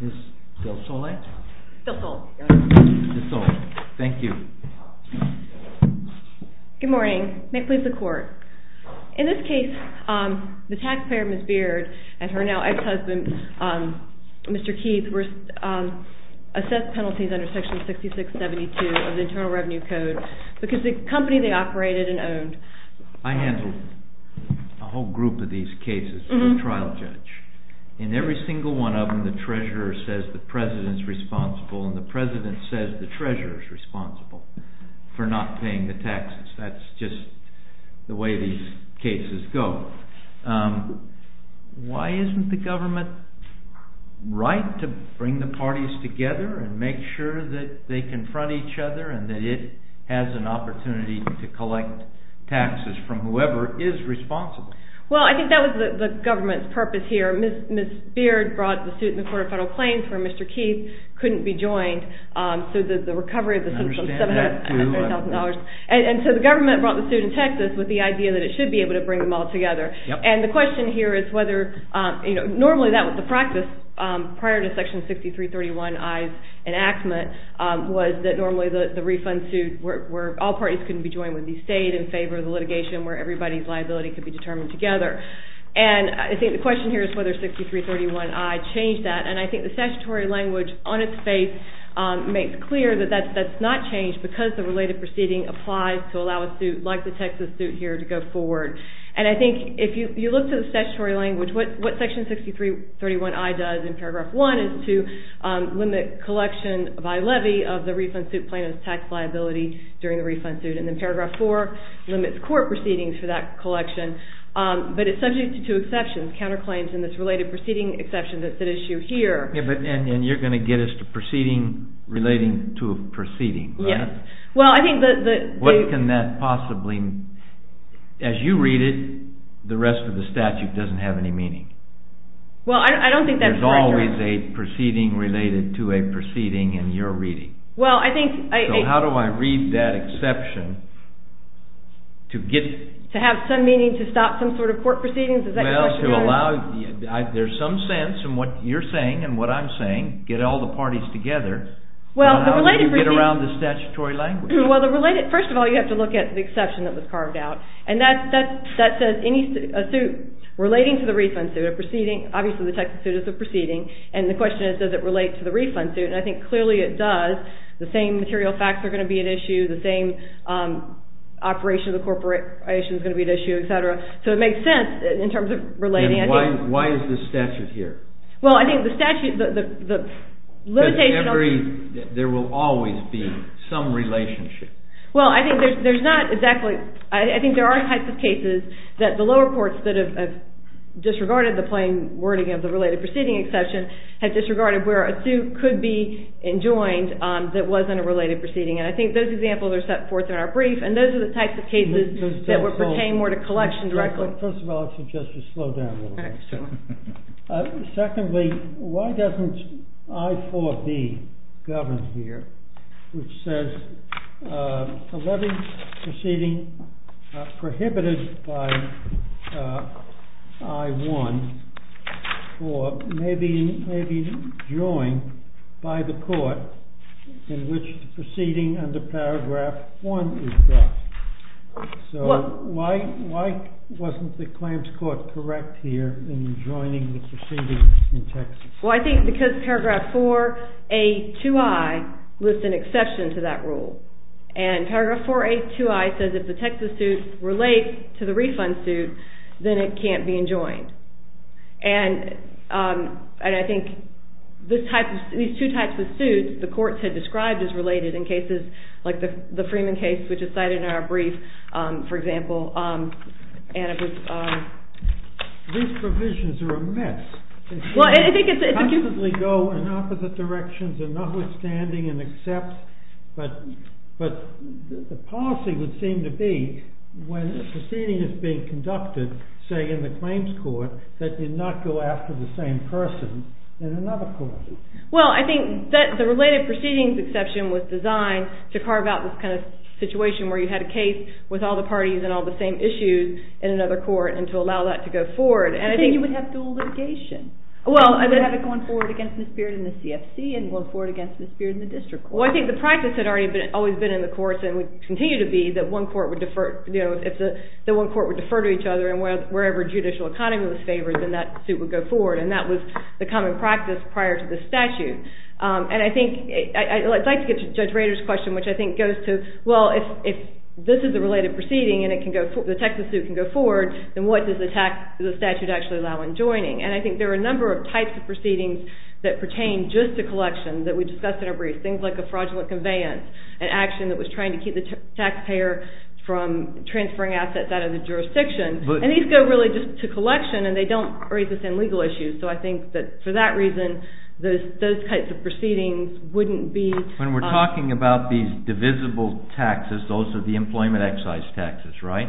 Ms. DelSole? DelSole. DelSole. Thank you. Good morning. May it please the Court. In this case, the taxpayer, Ms. Beard, and her now ex-husband, Mr. Keith, were assessed penalties under Section 6672 of the Internal Revenue Code because the company they operated and owned… I handle a whole group of these cases for a trial judge. In every single one of them, the treasurer says the president is responsible, and the president says the treasurer is responsible for not paying the taxes. That's just the way these cases go. Why isn't the government right to bring the parties together and make sure that they confront each other and that it has an opportunity to collect taxes from whoever is responsible? Well, I think that was the government's purpose here. Ms. Beard brought the suit in the Court of Federal Claims where Mr. Keith couldn't be joined. I understand that too. And so the government brought the suit in Texas with the idea that it should be able to bring them all together. And the question here is whether, you know, normally that was the practice prior to Section 6331I's enactment was that normally the refund suit where all parties couldn't be joined would be stayed in favor of the litigation where everybody's liability could be determined together. And I think the question here is whether 6331I changed that, and I think the statutory language on its face makes clear that that's not changed because the related proceeding applies to allow a suit like the Texas suit here to go forward. And I think if you look at the statutory language, what Section 6331I does in Paragraph 1 is to limit collection by levy of the refund suit plaintiff's tax liability during the refund suit. And then Paragraph 4 limits court proceedings for that collection, but it's subject to two exceptions, counterclaims and this related proceeding exception that's at issue here. And you're going to get us to proceeding relating to a proceeding, right? Yes. What can that possibly... As you read it, the rest of the statute doesn't have any meaning. Well, I don't think that's correct. There's always a proceeding related to a proceeding in your reading. Well, I think... So how do I read that exception to get... To have some meaning to stop some sort of court proceedings? Is that your question? Well, to allow... There's some sense in what you're saying and what I'm saying, get all the parties together. Well, the related proceeding... Get around the statutory language. Well, the related... First of all, you have to look at the exception that was carved out. And that says any suit relating to the refund suit, a proceeding... Obviously, the Texas suit is a proceeding. And the question is, does it relate to the refund suit? And I think clearly it does. The same material facts are going to be at issue. The same operation of the corporation is going to be at issue, et cetera. So it makes sense in terms of relating... And why is the statute here? Well, I think the statute... There will always be some relationship. Well, I think there's not exactly... I think there are types of cases that the lower courts that have disregarded the plain wording of the related proceeding exception have disregarded where a suit could be enjoined that wasn't a related proceeding. And I think those examples are set forth in our brief. And those are the types of cases that pertain more to collection directly. First of all, I suggest you slow down a little bit. Secondly, why doesn't I-4B govern here, which says, a levy proceeding prohibited by I-1 or may be enjoined by the court in which the proceeding under Paragraph 1 is brought. So why wasn't the Clamps court correct here in enjoining the proceedings in Texas? Well, I think because Paragraph 4A2I lists an exception to that rule. And Paragraph 4A2I says if the Texas suit relates to the refund suit, then it can't be enjoined. And I think these two types of suits the courts had described as related in cases like the Freeman case, which is cited in our brief, for example, and it was- These provisions are a mess. Well, I think it's- They constantly go in opposite directions and notwithstanding and accept. But the policy would seem to be when a proceeding is being conducted, say, in the Clamps court, that you not go after the same person in another court. Well, I think the related proceedings exception was designed to carve out this kind of situation where you had a case with all the parties and all the same issues in another court and to allow that to go forward, and I think- But then you would have dual litigation. Well- You would have it going forward against the spirit in the CFC and going forward against the spirit in the district court. Well, I think the practice had always been in the courts and would continue to be that one court would defer, you know, if the one court would defer to each other and wherever judicial economy was favored, then that suit would go forward, and that was the common practice prior to the statute. And I think- I'd like to get to Judge Rader's question, which I think goes to, well, if this is a related proceeding and the Texas suit can go forward, then what does the statute actually allow in joining? And I think there are a number of types of proceedings that pertain just to collection that we discussed in our brief, things like a fraudulent conveyance, an action that was trying to keep the taxpayer from transferring assets out of the jurisdiction. And these go really just to collection, and they don't raise the same legal issues. So I think that for that reason, those types of proceedings wouldn't be- When we're talking about these divisible taxes, those are the employment excise taxes, right?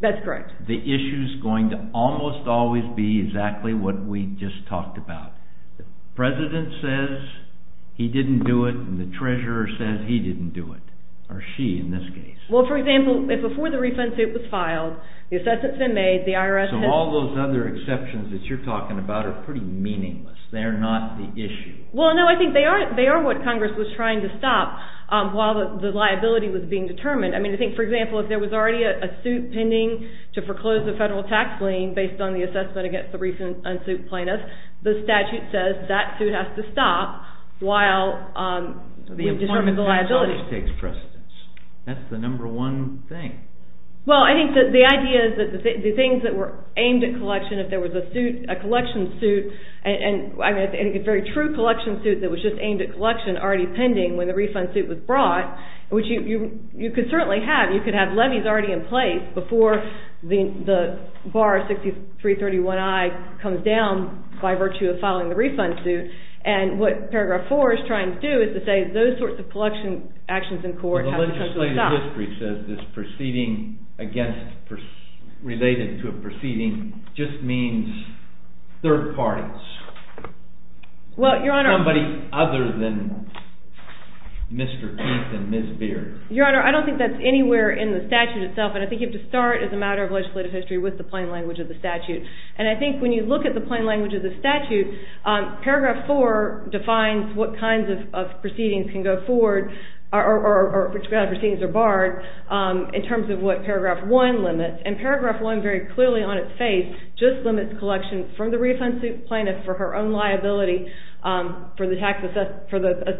That's correct. The issue is going to almost always be exactly what we just talked about. The president says he didn't do it, and the treasurer says he didn't do it, or she in this case. Well, for example, if before the refund suit was filed, the assessment's been made, the IRS has- So all those other exceptions that you're talking about are pretty meaningless. They are not the issue. Well, no, I think they are what Congress was trying to stop while the liability was being determined. I mean, I think, for example, if there was already a suit pending to foreclose the federal tax lien based on the assessment against the refund suit plaintiff, the statute says that suit has to stop while we determine the liability. That's the number one thing. Well, I think that the idea is that the things that were aimed at collection, if there was a collection suit and a very true collection suit that was just aimed at collection already pending when the refund suit was brought, which you could certainly have. You could have levies already in place before the bar 6331I comes down by virtue of filing the refund suit, and what paragraph 4 is trying to do is to say those sorts of collection actions in court have to stop. Well, the legislative history says this proceeding against-related to a proceeding just means third parties. Well, Your Honor- Somebody other than Mr. Keith and Ms. Beard. Your Honor, I don't think that's anywhere in the statute itself, and I think you have to start as a matter of legislative history with the plain language of the statute, and I think when you look at the plain language of the statute, paragraph 4 defines what kinds of proceedings can go forward, or which kind of proceedings are barred in terms of what paragraph 1 limits, and paragraph 1 very clearly on its face just limits collection from the refund suit plaintiff for her own liability for the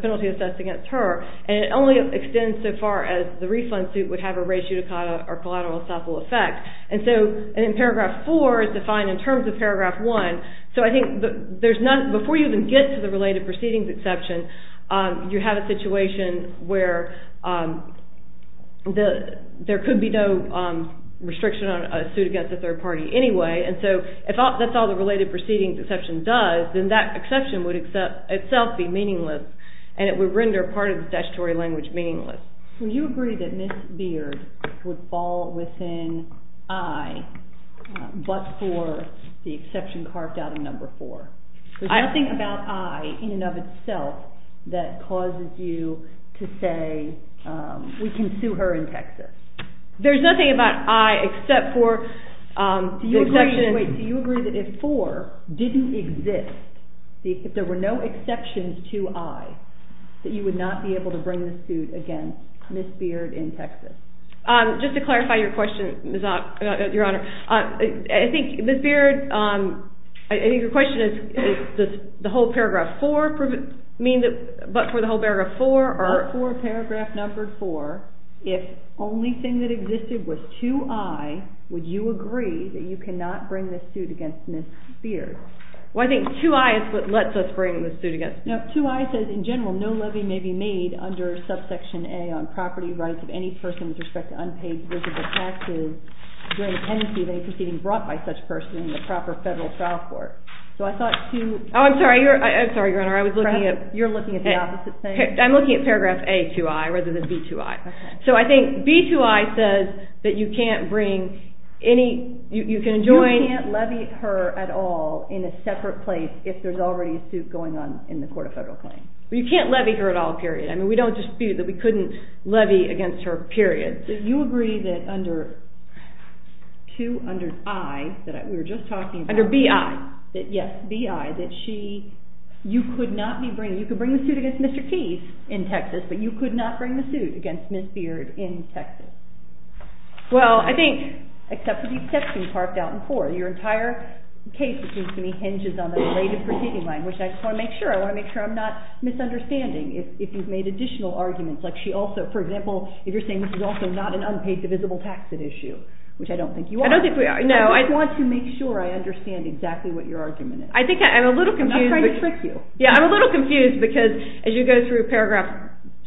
penalty assessed against her, and it only extends so far as the refund suit would have a ratio decada or collateral estoppel effect, and so paragraph 4 is defined in terms of paragraph 1, so I think before you even get to the related proceedings exception, you have a situation where there could be no restriction on a suit against a third party anyway, and so if that's all the related proceedings exception does, then that exception would itself be meaningless, and it would render part of the statutory language meaningless. So you agree that Ms. Beard would fall within I but for the exception carved out of number 4. There's nothing about I in and of itself that causes you to say we can sue her and text her. There's nothing about I except for the exception. Wait, do you agree that if 4 didn't exist, if there were no exceptions to I, that you would not be able to bring the suit against Ms. Beard in Texas? Just to clarify your question, Your Honor, I think Ms. Beard, I think your question is does the whole paragraph 4 mean that, but for the whole paragraph 4 or paragraph number 4, if only thing that existed was to I, would you agree that you cannot bring this suit against Ms. Beard? Well, I think 2I is what lets us bring the suit against her. No, 2I says in general no levy may be made under subsection A on property rights of any person with respect to unpaid visible taxes during the pendency of any proceeding brought by such person in the proper federal trial court. So I thought 2… Oh, I'm sorry, Your Honor, I was looking at… You're looking at the opposite thing? I'm looking at paragraph A2I rather than B2I. Okay. So I think B2I says that you can't bring any, you can join… in a separate place if there's already a suit going on in the court of federal claim. You can't levy her at all, period. I mean we don't dispute that we couldn't levy against her, period. Do you agree that under 2I, that we were just talking about… Under BI. Yes, BI, that she, you could not be bringing, you could bring the suit against Mr. Keyes in Texas, but you could not bring the suit against Ms. Beard in Texas? Well, I think, except for the exception parked out in 4, your entire case, it seems to me, hinges on the related proceeding line, which I just want to make sure, I want to make sure I'm not misunderstanding. If you've made additional arguments, like she also, for example, if you're saying this is also not an unpaid divisible taxid issue, which I don't think you are. I don't think we are, no. I just want to make sure I understand exactly what your argument is. I think I'm a little confused. I'm not trying to trick you. Yeah, I'm a little confused because as you go through paragraph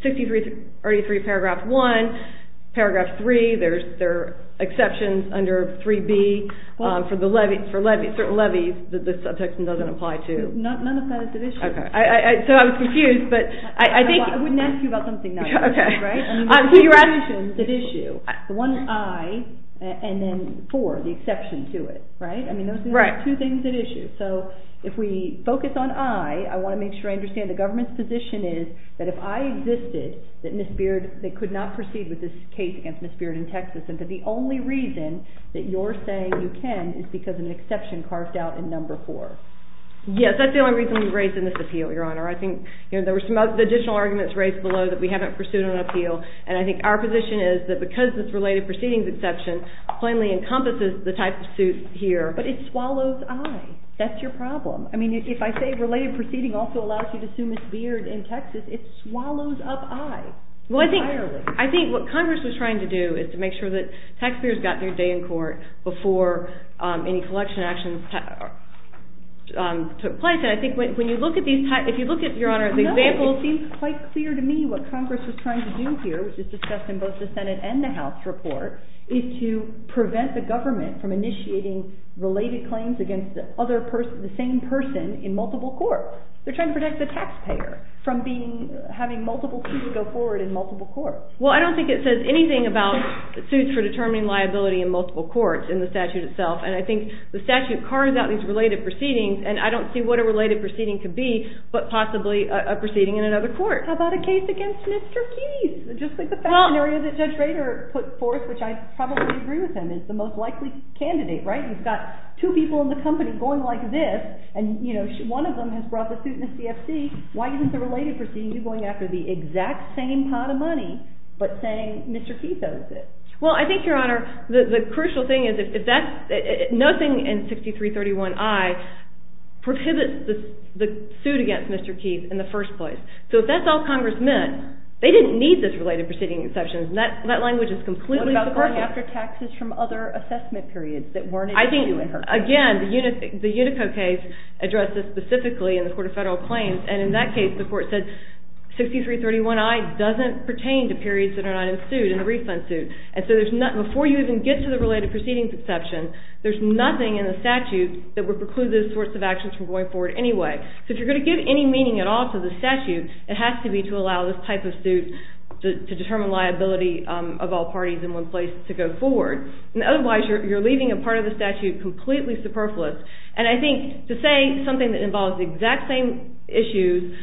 63, already through paragraph 1, paragraph 3, there are exceptions under 3B for the levy, for certain levies that the subsection doesn't apply to. None of that is divisible. Okay. So I was confused, but I think. I wouldn't ask you about something now. Okay. So you're asking. The one I and then 4, the exception to it, right? Right. I mean, those are the two things at issue. So if we focus on I, I want to make sure I understand the government's position is that if I existed, that Ms. Beard, they could not proceed with this case against Ms. Beard in Texas, and that the only reason that you're saying you can is because of an exception carved out in number 4. Yes, that's the only reason we raised in this appeal, Your Honor. I think there were some additional arguments raised below that we haven't pursued an appeal, and I think our position is that because this related proceedings exception plainly encompasses the type of suit here, but it swallows I. That's your problem. I mean, if I say related proceeding also allows you to sue Ms. Beard in Texas, it swallows up I entirely. Well, I think what Congress was trying to do is to make sure that taxpayers got their day in court before any collection actions took place, and I think when you look at these types, if you look at, Your Honor, the example, it seems quite clear to me what Congress was trying to do here, which is discussed in both the Senate and the House report, is to prevent the government from initiating related claims against the same person in multiple courts. They're trying to protect the taxpayer from having multiple people go forward in multiple courts. Well, I don't think it says anything about suits for determining liability in multiple courts in the statute itself, and I think the statute carves out these related proceedings, and I don't see what a related proceeding could be but possibly a proceeding in another court. How about a case against Mr. Keyes? Just like the fact that Judge Rader put forth, which I probably agree with him, is the most likely candidate, right? You've got two people in the company going like this, and one of them has brought the suit in the CFC. Why isn't the related proceeding going after the exact same pot of money but saying Mr. Keyes owes it? Well, I think, Your Honor, the crucial thing is nothing in 6331I prohibits the suit against Mr. Keyes in the first place. So if that's all Congress meant, they didn't need this related proceeding exception. That language is completely perfect. What about going after taxes from other assessment periods that weren't included in her case? Again, the Unico case addressed this specifically in the Court of Federal Claims, and in that case the court said 6331I doesn't pertain to periods that are not in the refund suit. And so before you even get to the related proceedings exception, there's nothing in the statute that would preclude those sorts of actions from going forward anyway. So if you're going to give any meaning at all to the statute, it has to be to allow this type of suit to determine liability of all parties in one place to go forward. Otherwise, you're leaving a part of the statute completely superfluous. And I think to say something that involves the exact same issues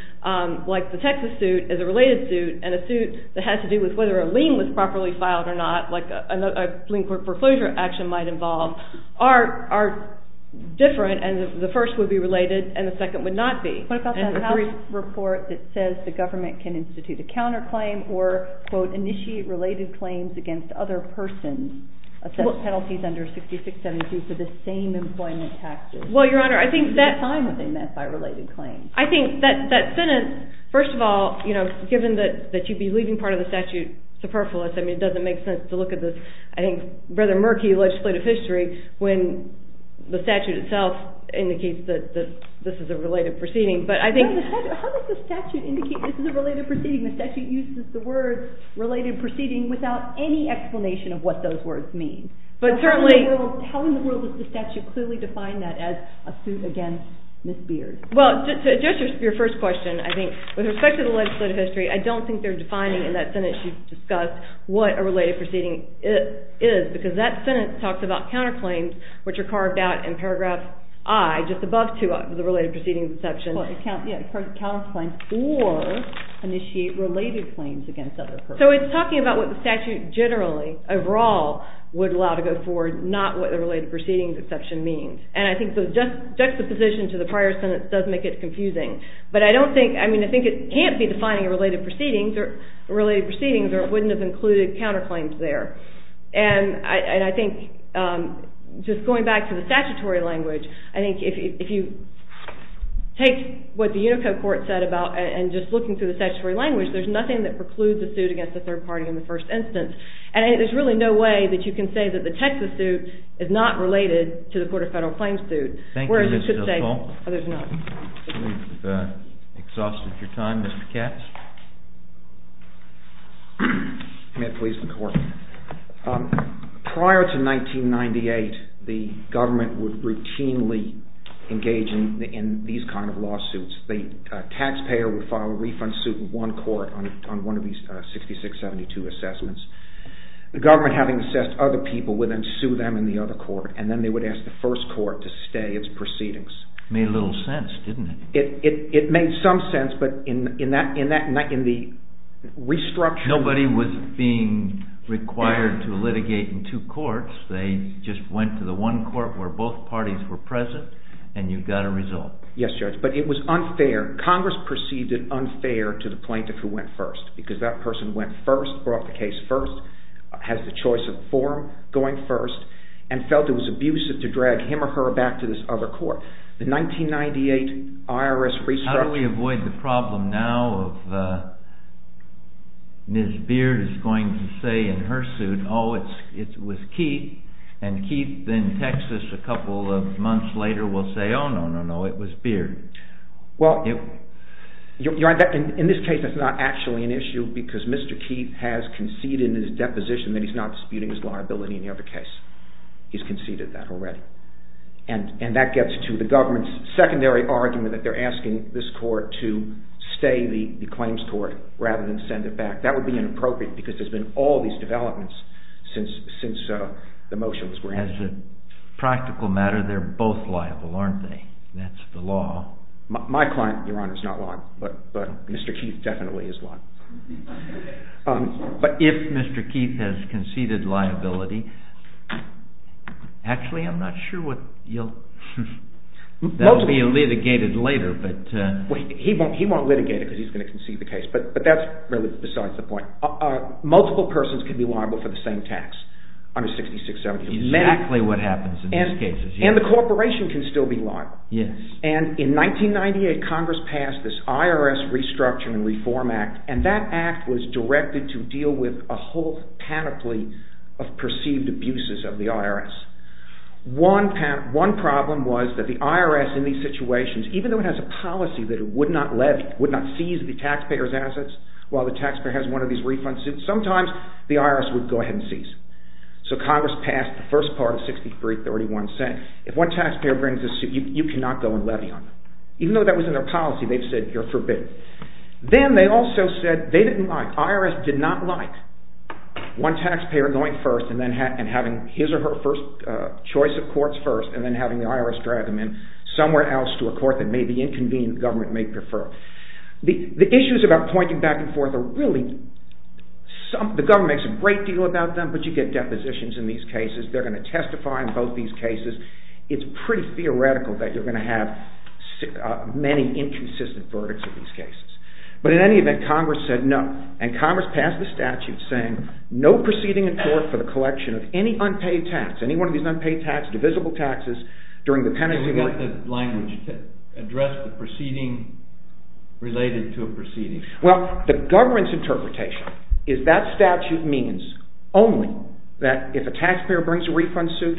like the Texas suit is a related suit, and a suit that has to do with whether a lien was properly filed or not, like a lien for foreclosure action might involve, are different, and the first would be related, and the second would not be. What about that House report that says the government can institute a counterclaim or, quote, initiate related claims against other persons? Penalties under 6672 for the same employment taxes. Well, Your Honor, I think that... At the time, were they met by related claims? I think that sentence, first of all, given that you'd be leaving part of the statute superfluous, it doesn't make sense to look at this, I think, rather murky legislative history when the statute itself indicates that this is a related proceeding. But I think... How does the statute indicate this is a related proceeding? The statute uses the words related proceeding without any explanation of what those words mean. But certainly... How in the world does the statute clearly define that as a suit against Ms. Beard? Well, to address your first question, I think with respect to the legislative history, I don't think they're defining in that sentence you've discussed what a related proceeding is, because that sentence talks about counterclaims which are carved out in paragraph I, just above 2i, the related proceedings exception. Yeah, it's part of the counterclaims, or initiate related claims against other persons. So it's talking about what the statute generally, overall, would allow to go forward, not what the related proceedings exception means. And I think the juxtaposition to the prior sentence does make it confusing. But I don't think... I mean, I think it can't be defining related proceedings, or it wouldn't have included counterclaims there. And I think, just going back to the statutory language, I think if you take what the Unico court said about... And just looking through the statutory language, there's nothing that precludes a suit against the third party in the first instance. And there's really no way that you can say that the Texas suit is not related to the Court of Federal Claims suit, whereas it could say... Thank you, Ms. Hillipal. I believe we've exhausted your time. Mr. Katz? May it please the Court? Prior to 1998, the government would routinely engage in these kind of lawsuits. The taxpayer would file a refund suit in one court on one of these 6672 assessments. The government, having assessed other people, would then sue them in the other court, and then they would ask the first court to stay its proceedings. It made little sense, didn't it? It made some sense, but in the restructuring... Nobody was being required to litigate in two courts. They just went to the one court where both parties were present, and you got a result. Yes, Judge, but it was unfair. Congress perceived it unfair to the plaintiff who went first, because that person went first, brought the case first, has the choice of the forum going first, and felt it was abusive to drag him or her back to this other court. The 1998 IRS restructuring... How do we avoid the problem now of... Ms. Beard is going to say in her suit, oh, it was Keith, and Keith then texts us a couple of months later, will say, oh, no, no, no, it was Beard. Well, in this case, that's not actually an issue, because Mr. Keith has conceded in his deposition that he's not disputing his liability in the other case. He's conceded that already. And that gets to the government's secondary argument that they're asking this court to stay the claims court rather than send it back. That would be inappropriate, because there's been all these developments since the motion was granted. As a practical matter, they're both liable, aren't they? That's the law. My client, Your Honor, is not liable, but Mr. Keith definitely is liable. But if Mr. Keith has conceded liability... Actually, I'm not sure what you'll... That will be litigated later, but... He won't litigate it, because he's going to concede the case, but that's really besides the point. Multiple persons can be liable for the same tax under 6670. That's exactly what happens in these cases. And the corporation can still be liable. Yes. And in 1998, Congress passed this IRS Restructure and Reform Act, and that act was directed to deal with a whole panoply of perceived abuses of the IRS. One problem was that the IRS, in these situations, even though it has a policy that it would not levy, would not seize the taxpayer's assets while the taxpayer has one of these refund suits, sometimes the IRS would go ahead and seize. So Congress passed the first part of 6331, saying if one taxpayer brings a suit, you cannot go and levy on them. Even though that was in their policy, they've said, you're forbidden. Then they also said they didn't like, the IRS did not like one taxpayer going first and having his or her first choice of courts first, and then having the IRS drag them in somewhere else to a court that may be inconvenient the government may prefer. The issues about pointing back and forth are really... The government makes a great deal about them, but you get depositions in these cases. They're going to testify in both these cases. It's pretty theoretical that you're going to have many inconsistent verdicts in these cases. But in any event, Congress said no, and Congress passed the statute saying no proceeding in court for the collection of any unpaid tax, any one of these unpaid taxes, divisible taxes, during the penalty... You meant the language addressed the proceeding related to a proceeding. Well, the government's interpretation is that statute means only that if a taxpayer brings a refund suit,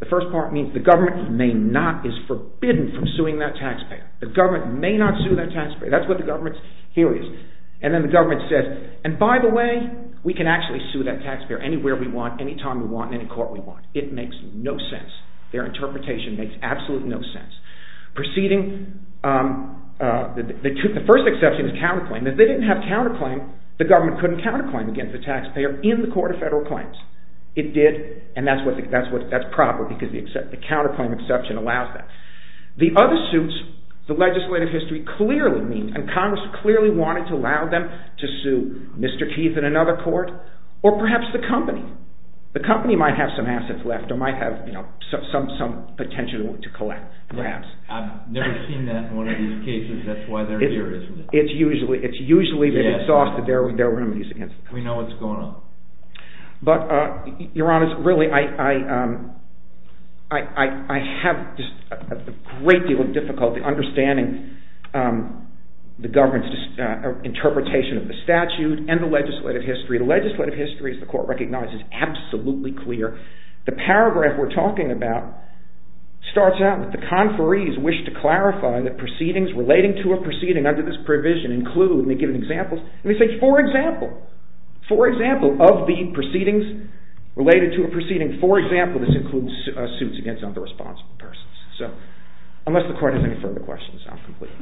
the first part means the government may not, is forbidden from suing that taxpayer. The government may not sue that taxpayer. That's what the government's theory is. And then the government says, and by the way, we can actually sue that taxpayer anywhere we want, anytime we want, in any court we want. It makes no sense. Their interpretation makes absolutely no sense. Proceeding... The first exception is counterclaim. If they didn't have counterclaim, the government couldn't counterclaim against the taxpayer in the court of federal claims. It did, and that's proper, because the counterclaim exception allows that. The other suits, the legislative history clearly means, and Congress clearly wanted to allow them to sue Mr. Keith in another court, or perhaps the company. The company might have some assets left, or might have some potential to collect, perhaps. I've never seen that in one of these cases. That's why they're here, isn't it? It's usually because they're exhausted. There are remedies against it. We know what's going on. But, Your Honor, really, I have just a great deal of difficulty understanding the government's interpretation of the statute and the legislative history. The legislative history, as the court recognizes, is absolutely clear. The paragraph we're talking about starts out with, The conferees wish to clarify that proceedings relating to a proceeding under this provision include, and they give examples, and they say, for example, for example, of the proceedings related to a proceeding, for example, this includes suits against other responsible persons. So, unless the court has any further questions, I'm complete.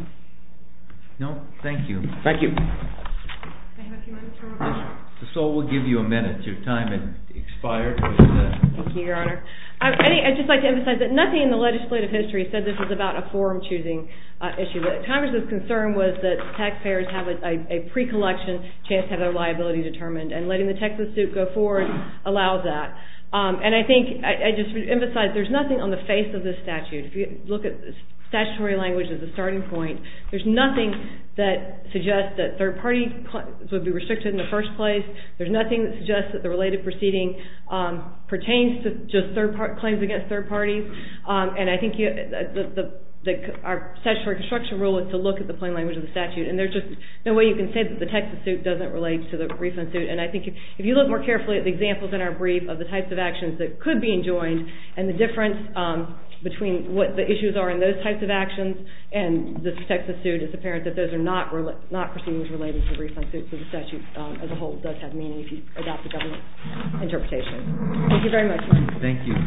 No, thank you. Thank you. I have a few minutes for revision. The soul will give you a minute. Your time has expired. Thank you, Your Honor. I'd just like to emphasize that nothing in the legislative history said this was about a forum-choosing issue. Congress's concern was that taxpayers have a pre-collection chance to have their liability determined, and letting the Texas suit go forward allows that. And I think, I just emphasize, there's nothing on the face of this statute. If you look at statutory language as a starting point, there's nothing that suggests that third parties would be restricted in the first place. There's nothing that suggests that the related proceeding pertains to just claims against third parties. And I think our statutory construction rule is to look at the plain language of the statute, and there's just no way you can say that the Texas suit doesn't relate to the refund suit. And I think if you look more carefully at the examples in our brief of the types of actions that could be enjoined, and the difference between what the issues are in those types of actions and the Texas suit, it's apparent that those are not proceedings related to the refund suit, so the statute as a whole does have meaning if you adopt the government interpretation. Thank you very much. Thank you.